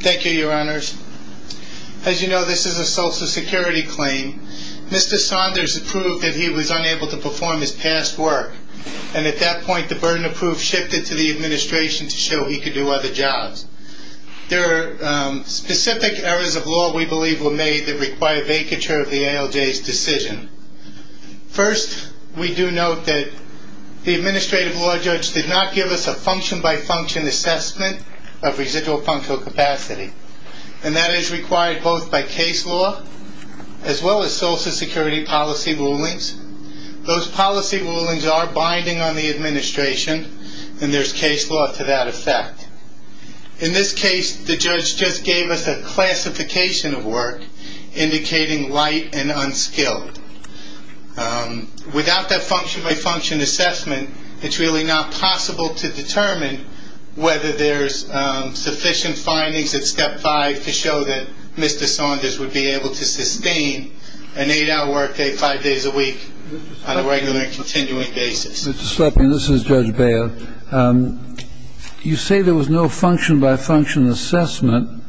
Thank you, your honors. As you know, this is a social security claim. Mr. Saunders approved that he was unable to perform his past work, and at that point the burden of proof shifted to the administration to show he could do other jobs. There are specific errors of law we believe were made that require vacature of the ALJ's decision. First, we do note that the administrative law judge did not give us a function-by-function assessment of residual functional capacity, and that is required both by case law as well as social security policy rulings. Those policy rulings are binding on the administration, and there is case law to that effect. In this case, the judge just gave us a classification of work indicating light and unskilled. Without that function-by-function assessment, it's really not possible to determine whether there's sufficient findings at step five to show that Mr. Saunders would be able to sustain an eight-hour workday five days a week on a regular and continuing basis. Mr. Slepin, this is Judge Bail. You say there was no function-by-function assessment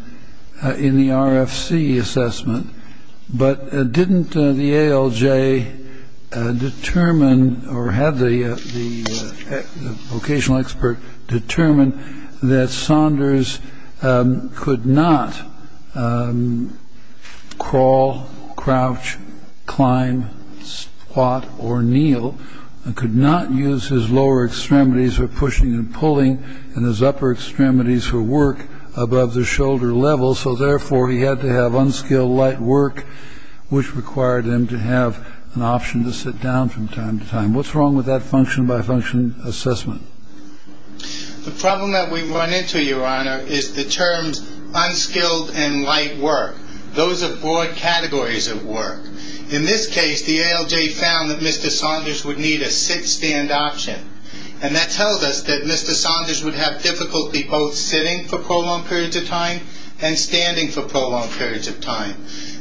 in the RFC assessment, but didn't the ALJ determine or have the vocational expert determine that Saunders could not crawl, crouch, climb, squat, or kneel, could not use his lower extremities for pushing and pulling, and his upper extremities for work above the shoulder level. So, therefore, he had to have unskilled light work, which required him to have an option to sit down from time to time. What's wrong with that function-by-function assessment? The problem that we run into, Your Honor, is the terms unskilled and light work. Those are broad categories of work. In this case, the ALJ found that Mr. Saunders would need a sit-stand option, and that tells us that Mr. Saunders would have difficulty both sitting for prolonged periods of time and standing for prolonged periods of time.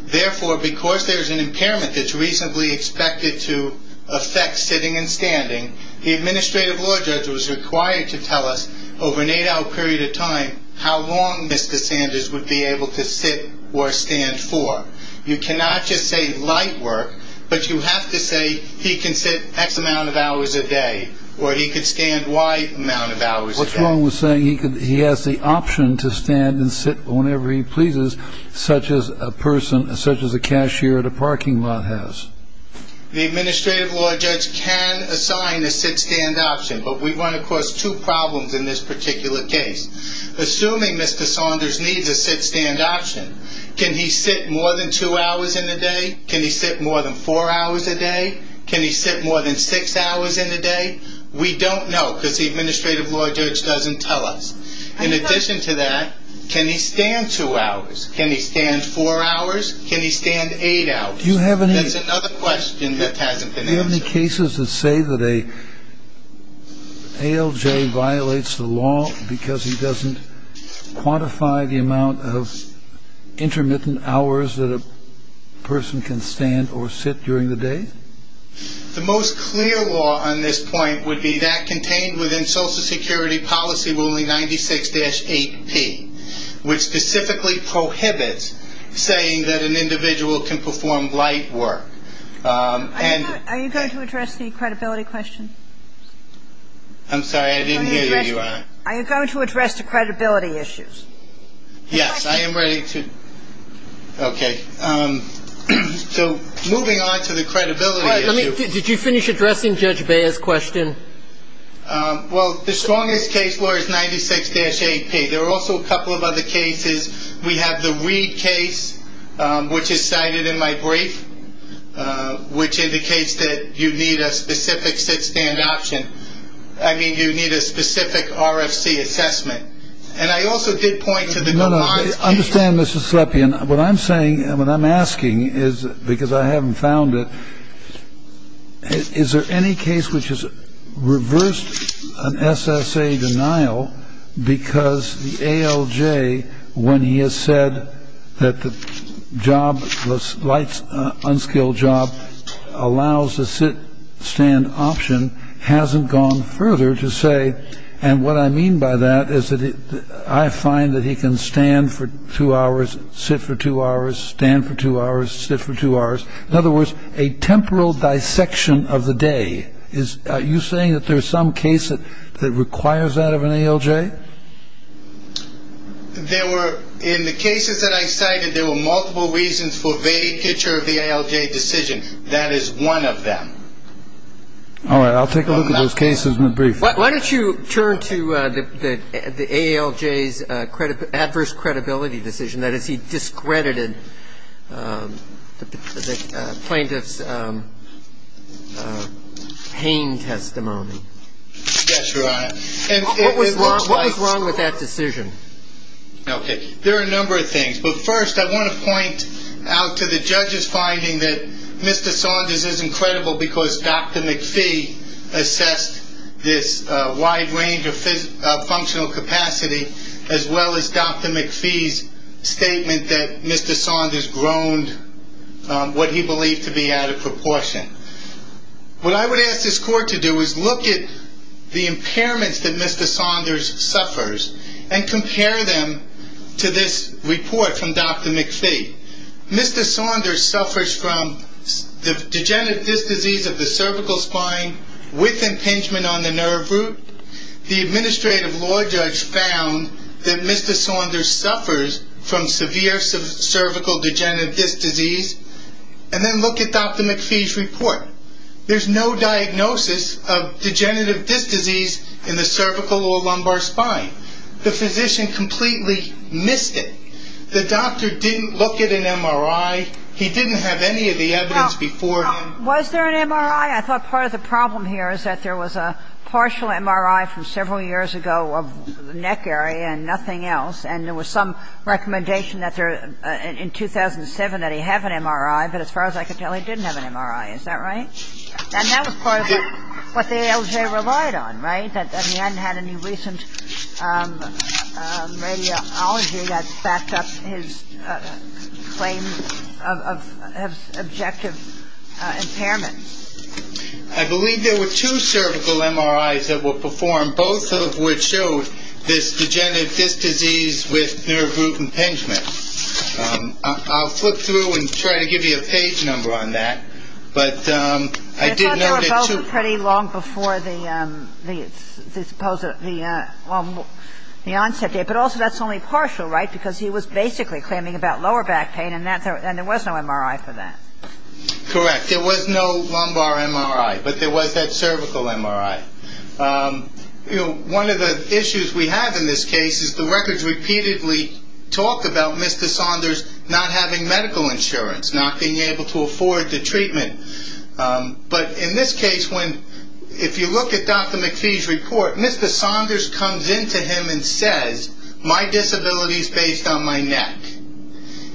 Therefore, because there's an impairment that's reasonably expected to affect sitting and standing, the administrative law judge was required to tell us over an eight-hour period of time how long Mr. Saunders would be able to sit or stand for. You cannot just say light work, but you have to say he can sit X amount of hours a day, or he could stand Y amount of hours a day. What's wrong with saying he has the option to stand and sit whenever he pleases, such as a person, such as a cashier at a parking lot has? The administrative law judge can assign a sit-stand option, but we run across two problems in this particular case. Assuming Mr. Saunders needs a sit-stand option, can he sit more than two hours in a day? Can he sit more than four hours a day? Can he sit more than six hours in a day? We don't know, because the administrative law judge doesn't tell us. In addition to that, can he stand two hours? Can he stand four hours? Can he stand eight hours? Do you have any... That's another question that hasn't been answered. Do you have any cases that say that a ALJ violates the law because he doesn't quantify the amount of intermittent hours that a person can stand or sit during the day? The most clear law on this point would be that contained within Social Security Policy Ruling 96-8P, which specifically prohibits saying that an individual can perform light work. Are you going to address the credibility question? I'm sorry, I didn't hear you, Your Honor. Are you going to address the credibility issues? Yes, I am ready to... Okay. So, moving on to the credibility issue... Did you finish addressing Judge Beyer's question? Well, the strongest case law is 96-8P. There are also a couple of other cases. We have the Reid case, which is cited in my brief, which indicates that you need a specific sit-stand option. I mean, you need a specific RFC assessment. And I also did point to the... No, no. I understand, Mr. Slepian. What I'm saying, what I'm asking is, because I haven't found it, is there any case which has reversed an SSA denial because the ALJ, when he has said that the jobless, light, unskilled job allows a sit-stand option, hasn't gone further to say... And what I mean by that is that I find that he can stand for two hours, sit for two hours, stand for two hours, sit for two hours. In other words, a temporal dissection of the day. Are you saying that there's some case that requires that of an ALJ? There were, in the cases that I cited, there were multiple reasons for vague picture of the ALJ decision. That is one of them. All right. I'll take a look at those cases in the brief. Why don't you turn to the ALJ's adverse credibility decision, that is, he discredited the plaintiff's pain testimony. Yes, Your Honor. What was wrong with that decision? Okay. There are a number of things. But first, I want to point out to the judge's finding that Mr. Saunders is incredible because Dr. McPhee assessed this wide range of functional capacity, as well as Dr. McPhee's statement that Mr. Saunders groaned what he believed to be out of proportion. What I would ask this court to do is look at the impairments that Mr. Saunders suffers and compare them to this report from Dr. McPhee. Mr. Saunders suffers from the degenerative disc disease of the cervical spine with impingement on the nerve root. The administrative law judge found that Mr. Saunders suffers from severe cervical degenerative disc disease. And then look at Dr. McPhee's report. There's no diagnosis of degenerative disc disease in the cervical or lumbar spine. The physician completely missed it. The doctor didn't look at an MRI. He didn't have any of the evidence before him. Was there an MRI? I thought part of the problem here is that there was a partial MRI from in 2007 that he had an MRI, but as far as I could tell, he didn't have an MRI. Is that right? And that was part of what the ALJ relied on, right? That he hadn't had any recent radiology that backed up his claim of objective impairment. I believe there were two cervical MRIs that were performed, both of which showed this degenerative disc disease with nerve root impingement. I'll flip through and try to give you a page number on that, but I did note that two of them. I thought they were both pretty long before the onset date, but also that's only partial, right? Because he was basically claiming about lower back pain, and there was no MRI for that. Correct. There was no lumbar MRI, but there was that cervical MRI. One of the issues we have in this case is the records repeatedly talk about Mr. Saunders not having medical insurance, not being able to afford the treatment. But in this case, if you look at Dr. McPhee's report, Mr. Saunders comes into him and says, my disability is based on my neck.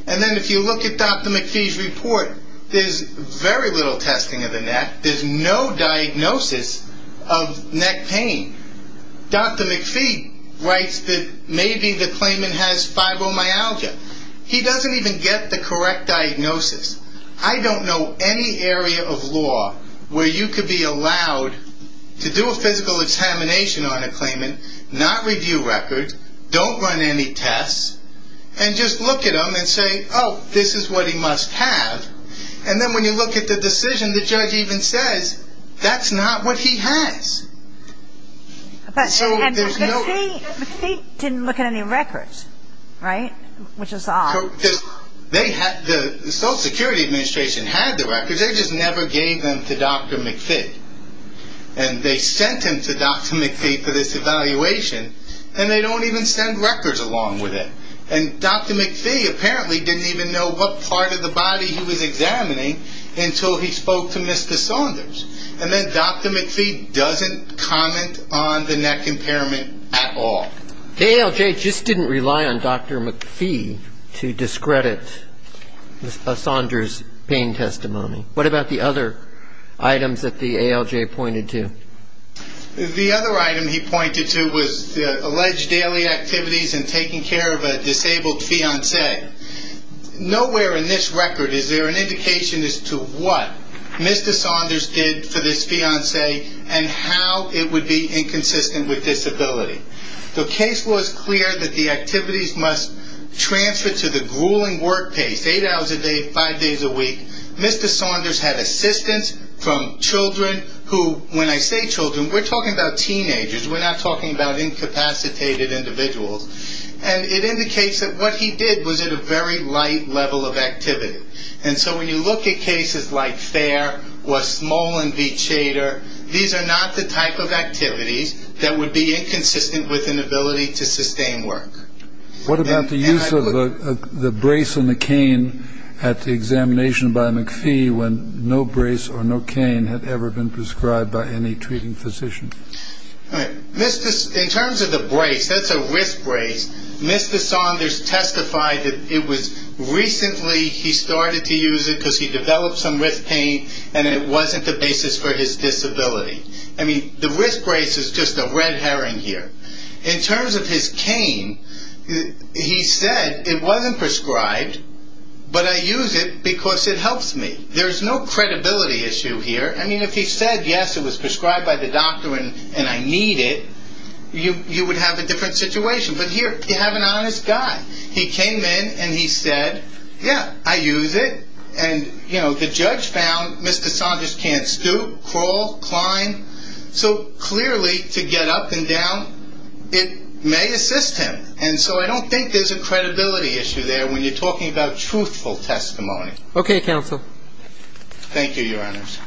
And then if you look at Dr. McPhee's report, there's very little testing of the neck. There's no diagnosis of neck pain. Dr. McPhee writes that maybe the claimant has fibromyalgia. He doesn't even get the correct diagnosis. I don't know any area of law where you could be allowed to do a physical examination on a claimant, not review records, don't run any tests, and just look at him and say, oh, this is what he must have. And then when you look at the decision, the judge even says, that's not what he has. McPhee didn't look at any records, right, which is odd. The Social Security Administration had the records. They just never gave them to Dr. McPhee. And they sent him to Dr. McPhee for this evaluation, and they don't even send records along with it. And Dr. McPhee apparently didn't even know what part of the body he was examining until he spoke to Mr. Saunders. And then Dr. McPhee doesn't comment on the neck impairment at all. The ALJ just didn't rely on Dr. McPhee to discredit Saunders' pain testimony. What about the other items that the ALJ pointed to? The other item he pointed to was alleged daily activities in taking care of a disabled fiancé. Nowhere in this record is there an indication as to what Mr. Saunders did for this fiancé and how it would be inconsistent with disability. The case was clear that the activities must transfer to the grueling work pace, Mr. Saunders had assistance from children who, when I say children, we're talking about teenagers. We're not talking about incapacitated individuals. And it indicates that what he did was at a very light level of activity. And so when you look at cases like FAIR or Smolin v. Chater, these are not the type of activities that would be inconsistent with an ability to sustain work. What about the use of the brace and the cane at the examination by McPhee when no brace or no cane had ever been prescribed by any treating physician? In terms of the brace, that's a wrist brace. Mr. Saunders testified that it was recently he started to use it because he developed some wrist pain and it wasn't the basis for his disability. I mean, the wrist brace is just a red herring here. In terms of his cane, he said it wasn't prescribed, but I use it because it helps me. There's no credibility issue here. I mean, if he said, yes, it was prescribed by the doctor and I need it, you would have a different situation. But here, you have an honest guy. He came in and he said, yeah, I use it. And, you know, the judge found Mr. Saunders can't stoop, crawl, climb. So, clearly, to get up and down, it may assist him. And so I don't think there's a credibility issue there when you're talking about truthful testimony. Okay, counsel. Thank you, Your Honors.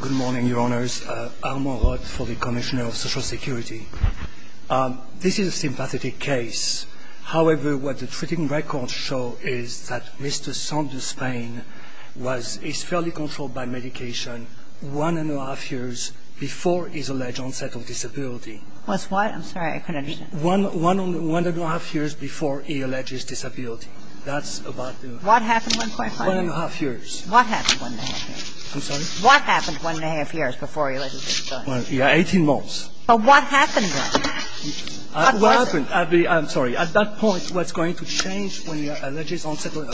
Good morning, Your Honors. Armand Roth for the Commissioner of Social Security. This is a sympathetic case. However, what the treating records show is that Mr. Saunders' pain was fairly controlled by medication one and a half years before his alleged onset of disability. Was what? I'm sorry, I couldn't understand. One and a half years before he alleged disability. That's about the... What happened 1.5 years? One and a half years. What happened one and a half years? I'm sorry? What happened one and a half years before he alleged disability? Eighteen months. But what happened then? What was it? I'm sorry. At that point, what's going to change when you're alleged onset of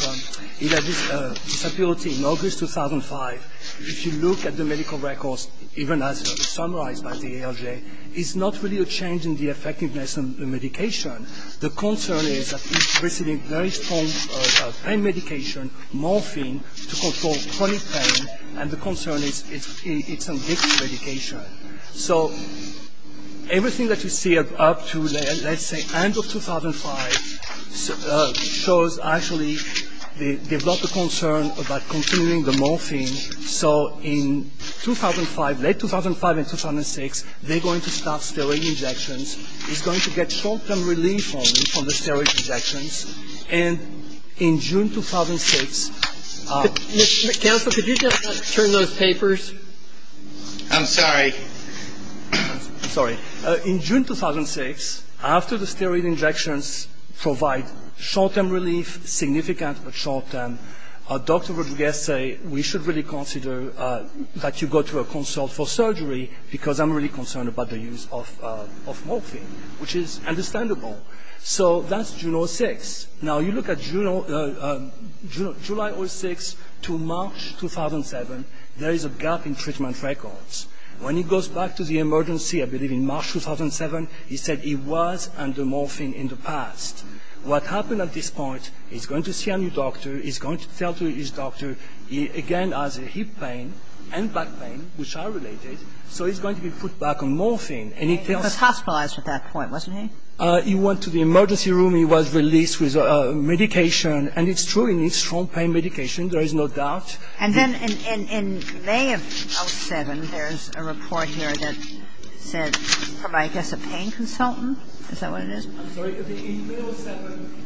disability in August 2005, if you look at the medical records, even as summarized by the ALJ, is not really a change in the effectiveness of the medication. The concern is that he's receiving very strong pain medication, morphine, to control chronic pain, and the concern is it's an addictive medication. So everything that you see up to, let's say, end of 2005, shows actually they've got the concern about continuing the morphine. So in 2005, late 2005 and 2006, they're going to start steroid injections. He's going to get short-term relief only from the steroid injections. And in June 2006... Counsel, could you turn those papers? I'm sorry. I'm sorry. In June 2006, after the steroid injections provide short-term relief, significant short-term, Dr. Rodriguez said we should really consider that you go to a consult for surgery because I'm really concerned about the use of morphine, which is understandable. So that's June 2006. Now, you look at July 2006 to March 2007, there is a gap in treatment records. When he goes back to the emergency, I believe in March 2007, he said he was under morphine in the past. What happened at this point, he's going to see a new doctor. He's going to tell his doctor, again, has hip pain and back pain, which are related, so he's going to be put back on morphine. He was hospitalized at that point, wasn't he? He went to the emergency room. He was released with medication, and it's true he needs strong pain medication. There is no doubt. And then in May of 2007, there's a report here that said from, I guess, a pain consultant. Is that what it is? I'm sorry. In May 2007,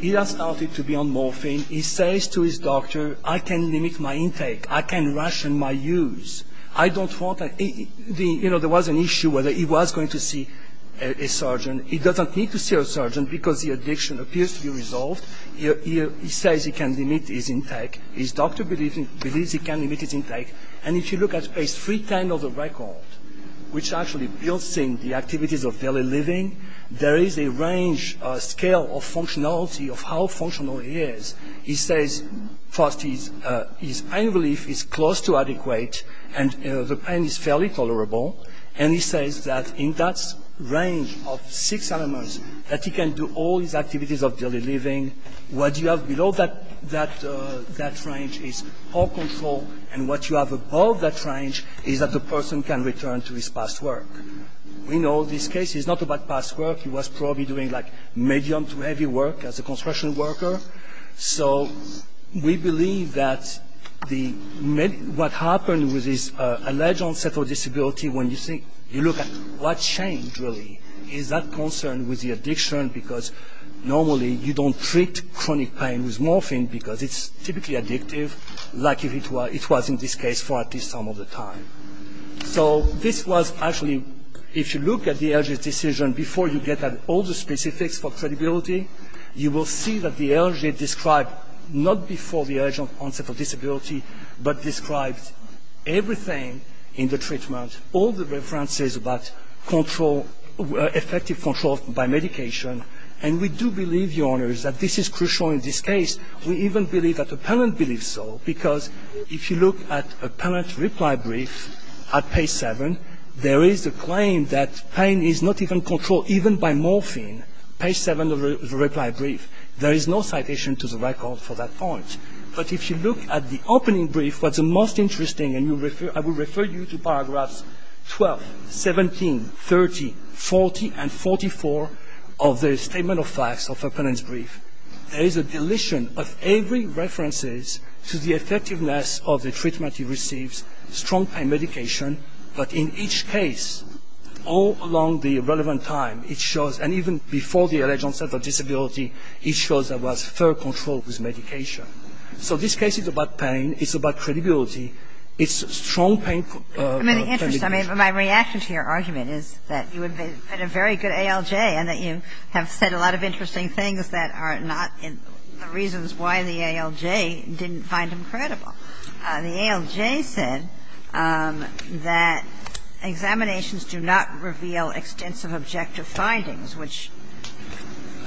he has started to be on morphine. He says to his doctor, I can limit my intake. I can ration my use. You know, there was an issue whether he was going to see a surgeon. He doesn't need to see a surgeon because the addiction appears to be resolved. He says he can limit his intake. His doctor believes he can limit his intake. And if you look at page 310 of the record, which actually builds in the activities of daily living, there is a range, a scale of functionality of how functional he is. He says, first, his pain relief is close to adequate, and the pain is fairly tolerable. And he says that in that range of six elements that he can do all his activities of daily living, what you have below that range is all control, and what you have above that range is that the person can return to his past work. We know this case is not about past work. He was probably doing, like, medium to heavy work as a construction worker. So we believe that what happened with his alleged unsettled disability, when you look at what changed, really, is that concern with the addiction because normally you don't treat chronic pain with morphine because it's typically addictive, like it was in this case for at least some of the time. So this was actually, if you look at the LG's decision before you get all the specifics for credibility, you will see that the LG described not before the alleged unsettled disability, but described everything in the treatment, all the references about control, effective control by medication. And we do believe, Your Honors, that this is crucial in this case. We even believe that the parent believes so because if you look at a parent's reply brief at page seven, there is a claim that pain is not even controlled even by morphine. Page seven of the reply brief, there is no citation to the record for that point. But if you look at the opening brief, what's most interesting, and I will refer you to paragraphs 12, 17, 30, 40, and 44 of the statement of facts of a parent's brief, there is a deletion of every reference to the effectiveness of the treatment he receives, strong pain medication, but in each case, all along the relevant time, it shows, and even before the alleged unsettled disability, it shows there was fair control with medication. So this case is about pain. It's about credibility. It's strong pain medication. I mean, my reaction to your argument is that you have been a very good ALJ and that you have said a lot of interesting things that are not the reasons why the ALJ didn't find him credible. The ALJ said that examinations do not reveal extensive objective findings, which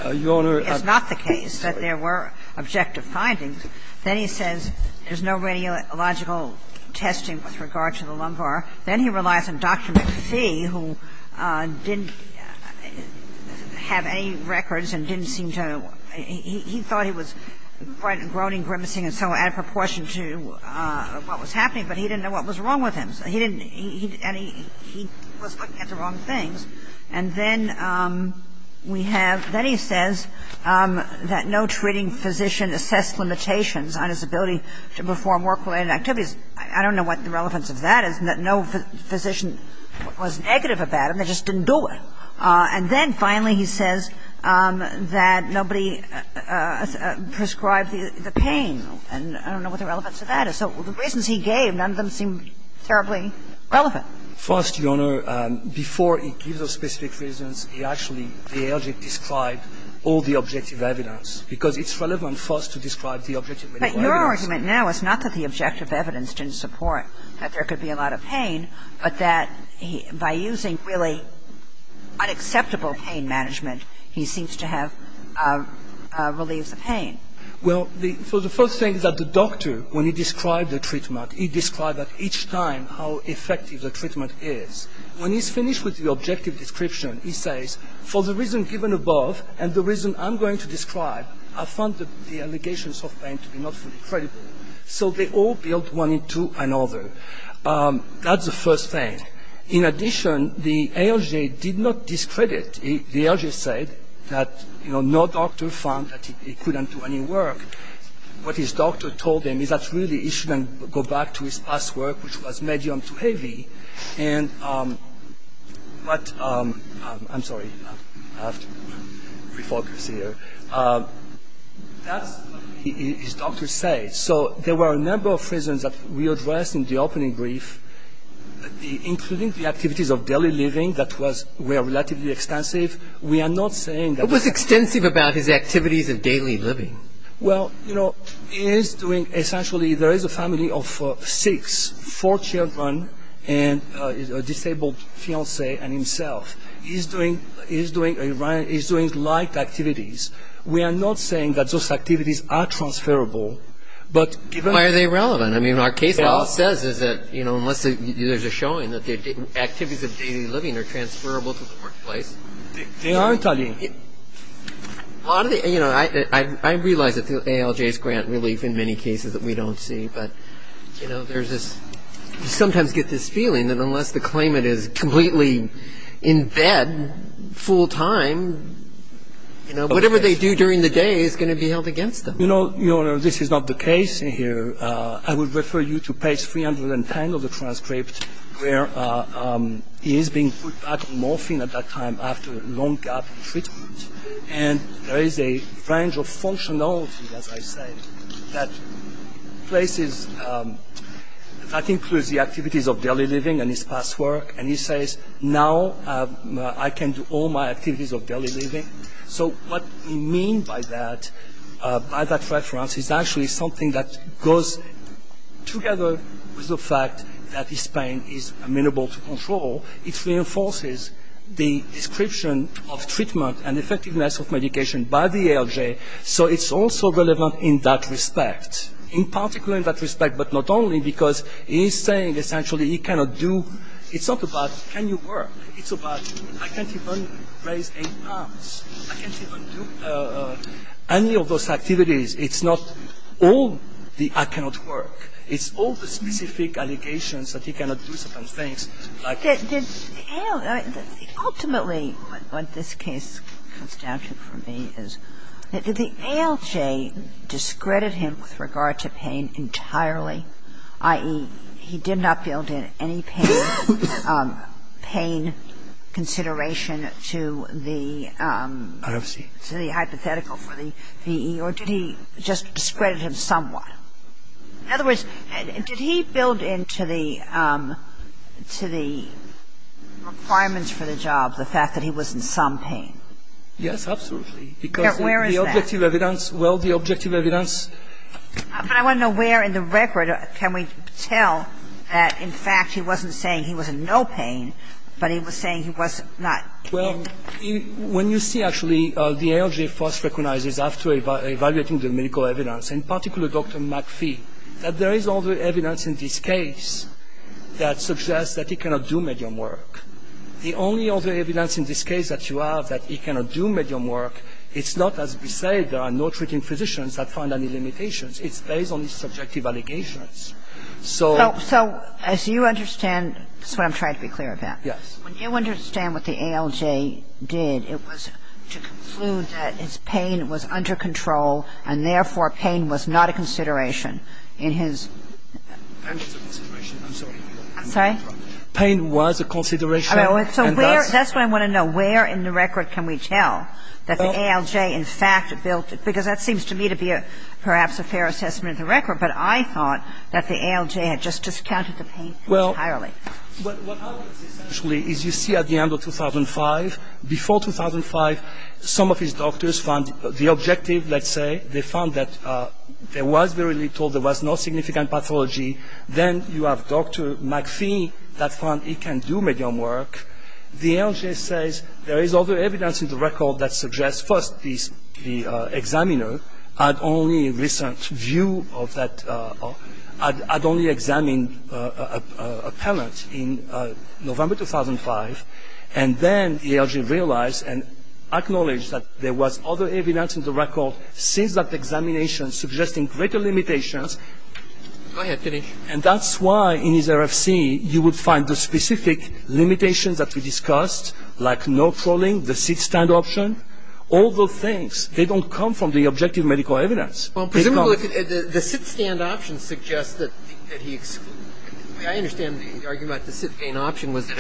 is not the case, that there were objective findings. Then he says there's no radiological testing with regard to the lumbar. Then he relies on Dr. McPhee, who didn't have any records and didn't seem to know what was happening, but he didn't know what was wrong with him. So he didn't – and he was looking at the wrong things. And then we have – then he says that no treating physician assessed limitations on his ability to perform work-related activities. I don't know what the relevance of that is, and that no physician was negative about him. They just didn't do it. And then, finally, he says that nobody prescribed the pain. And I don't know what the relevance of that is. So the reasons he gave, none of them seem terribly relevant. First, Your Honor, before he gives those specific reasons, he actually, the ALJ, described all the objective evidence, because it's relevant first to describe the objective evidence. But your argument now is not that the objective evidence didn't support that there By using really unacceptable pain management, he seems to have relieved the pain. Well, the – so the first thing is that the doctor, when he described the treatment, he described at each time how effective the treatment is. When he's finished with the objective description, he says, for the reason given above and the reason I'm going to describe, I found the allegations of pain to be not fully credible. So they all build one into another. That's the first thing. In addition, the ALJ did not discredit. The ALJ said that, you know, no doctor found that he couldn't do any work. What his doctor told him is that really he shouldn't go back to his past work, which was medium to heavy. And what – I'm sorry. I have to refocus here. That's what his doctor said. So there were a number of reasons that we addressed in the opening brief. Including the activities of daily living that were relatively extensive. We are not saying that – What was extensive about his activities of daily living? Well, you know, he is doing – essentially there is a family of six, four children and a disabled fiancé and himself. He is doing light activities. We are not saying that those activities are transferable. But given – Why are they relevant? I mean, our case law says is that, you know, unless there is a showing that the activities of daily living are transferable to the workplace. They aren't, Ali. A lot of the – you know, I realize that the ALJs grant relief in many cases that we don't see. But, you know, there is this – you sometimes get this feeling that unless the claimant is completely in bed full time, you know, whatever they do during the day is going to be held against them. Your Honor, this is not the case here. I would refer you to page 310 of the transcript, where he is being put back on morphine at that time after a long gap in treatment. And there is a range of functionality, as I said, that places – that includes the activities of daily living and his past work. And he says, now I can do all my activities of daily living. So what we mean by that, by that reference, is actually something that goes together with the fact that his pain is amenable to control. It reinforces the description of treatment and effectiveness of medication by the ALJ. So it's also relevant in that respect. In particular in that respect, but not only, because he is saying essentially he cannot do – it's not about can you work. It's about I can't even raise eight pounds. I can't even do any of those activities. It's not all the I cannot work. It's all the specific allegations that he cannot do certain things like – Ultimately, what this case comes down to for me is the ALJ discredited him with regard to pain entirely, i.e., he did not build in any pain. He did not build in any pain consideration to the hypothetical for the VE, or did he just discredit him somewhat? In other words, did he build into the requirements for the job the fact that he was in some pain? Yes, absolutely. Where is that? Because the objective evidence – well, the objective evidence – But I want to know where in the record can we tell that in fact he wasn't saying he was in no pain, but he was saying he was not. Well, when you see actually the ALJ first recognizes after evaluating the medical evidence, in particular Dr. McPhee, that there is other evidence in this case that suggests that he cannot do medium work. The only other evidence in this case that you have that he cannot do medium work it's not, as we say, there are no treating physicians that find any limitations. It's based on his subjective allegations. So as you understand – this is what I'm trying to be clear about. Yes. When you understand what the ALJ did, it was to conclude that his pain was under control and therefore pain was not a consideration in his – Pain was a consideration. I'm sorry. I'm sorry? Pain was a consideration. That's what I want to know. Where in the record can we tell that the ALJ in fact built – because that seems to me to be perhaps a fair assessment of the record, but I thought that the ALJ had just discounted the pain entirely. Well, what happens essentially is you see at the end of 2005, before 2005, some of his doctors found the objective, let's say, they found that there was very little, there was no significant pathology. Then you have Dr. McPhee that found he can do medium work. The ALJ says there is other evidence in the record that suggests first the examiner had only recent view of that – had only examined a palate in November 2005. And then the ALJ realized and acknowledged that there was other evidence in the record since that examination suggesting greater limitations. Go ahead, Dinesh. And that's why in his RFC you would find the specific limitations that we discussed like no trolling, the sit-stand option, all those things. They don't come from the objective medical evidence. Well, presumably the sit-stand option suggests that he – I understand the argument the sit-stand option was that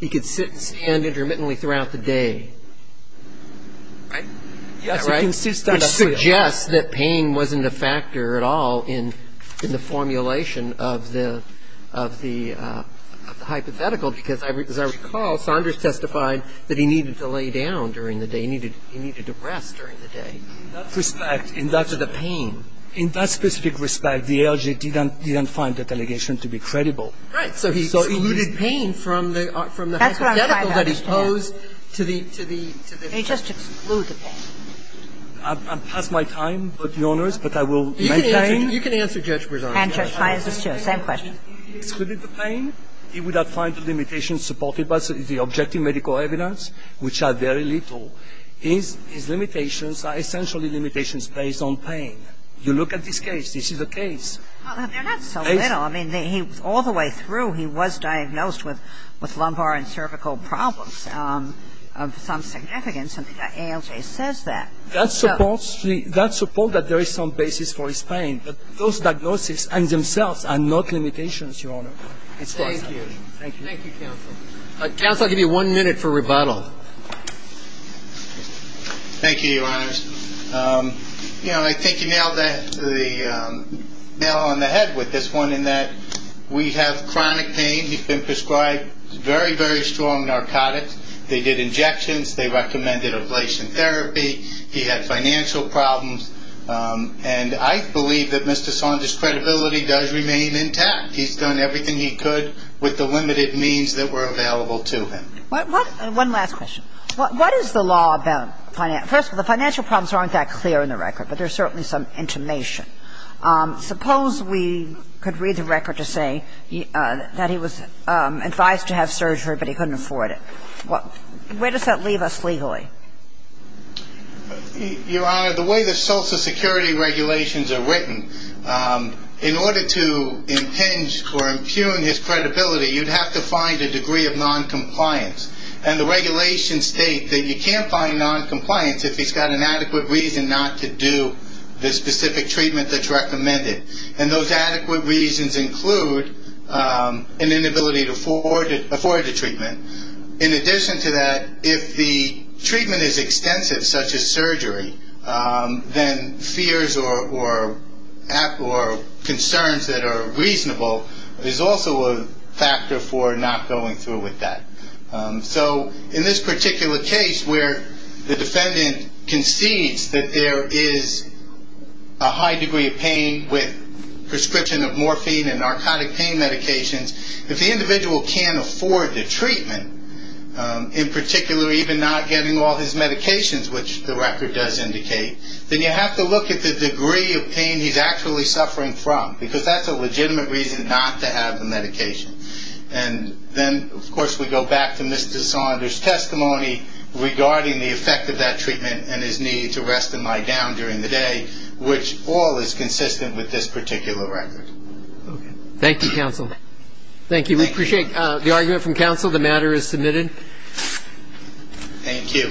he could sit and stand intermittently throughout the day. Right? Which suggests that pain wasn't a factor at all in the formulation of the hypothetical because, as I recall, Saunders testified that he needed to lay down during the day. He needed to rest during the day. In that respect, in that – To the pain. In that specific respect, the ALJ didn't find that allegation to be credible. Right. So he – So he alluded pain from the hypothetical that he posed to the – He just excluded the pain. I'm past my time, Your Honors, but I will maintain. You can answer, Judge Bresan. And Judge Fines is, too. Same question. He excluded the pain. He would have found the limitations supported by the objective medical evidence, which are very little. His limitations are essentially limitations based on pain. You look at this case. This is a case. They're not so little. I mean, all the way through he was diagnosed with lumbar and cervical problems of some significance, and the ALJ says that. That supports that there is some basis for his pain. But those diagnoses in themselves are not limitations, Your Honor. Thank you. Thank you. Thank you, counsel. Counsel, I'll give you one minute for rebuttal. Thank you, Your Honors. You know, I think you nailed the nail on the head with this one in that we have chronic pain. He's been prescribed very, very strong narcotics. They did injections. They recommended ablation therapy. He had financial problems. And I believe that Mr. Sondra's credibility does remain intact. He's done everything he could with the limited means that were available to him. One last question. What is the law about finance? First of all, the financial problems aren't that clear in the record, but there's certainly some intimation. Suppose we could read the record to say that he was advised to have surgery, but he couldn't afford it. Where does that leave us legally? Your Honor, the way the Social Security regulations are written, in order to impinge or impugn his credibility, you'd have to find a degree of noncompliance. And the regulations state that you can't find noncompliance if he's got an adequate reason not to do the specific treatment that's recommended. And those adequate reasons include an inability to afford the treatment. In addition to that, if the treatment is extensive, such as surgery, then fears or concerns that are reasonable is also a factor for not going through with that. So in this particular case where the defendant concedes that there is a high degree of pain with prescription of morphine and narcotic pain medications, if the individual can't afford the treatment, in particular even not getting all his medications, which the record does indicate, then you have to look at the degree of pain he's actually suffering from, because that's a legitimate reason not to have the medication. And then, of course, we go back to Mr. Saunders' testimony regarding the effect of that treatment and his need to rest and lie down during the day, which all is consistent with this particular record. Okay. Thank you, counsel. Thank you. We appreciate the argument from counsel. The matter is submitted. Thank you.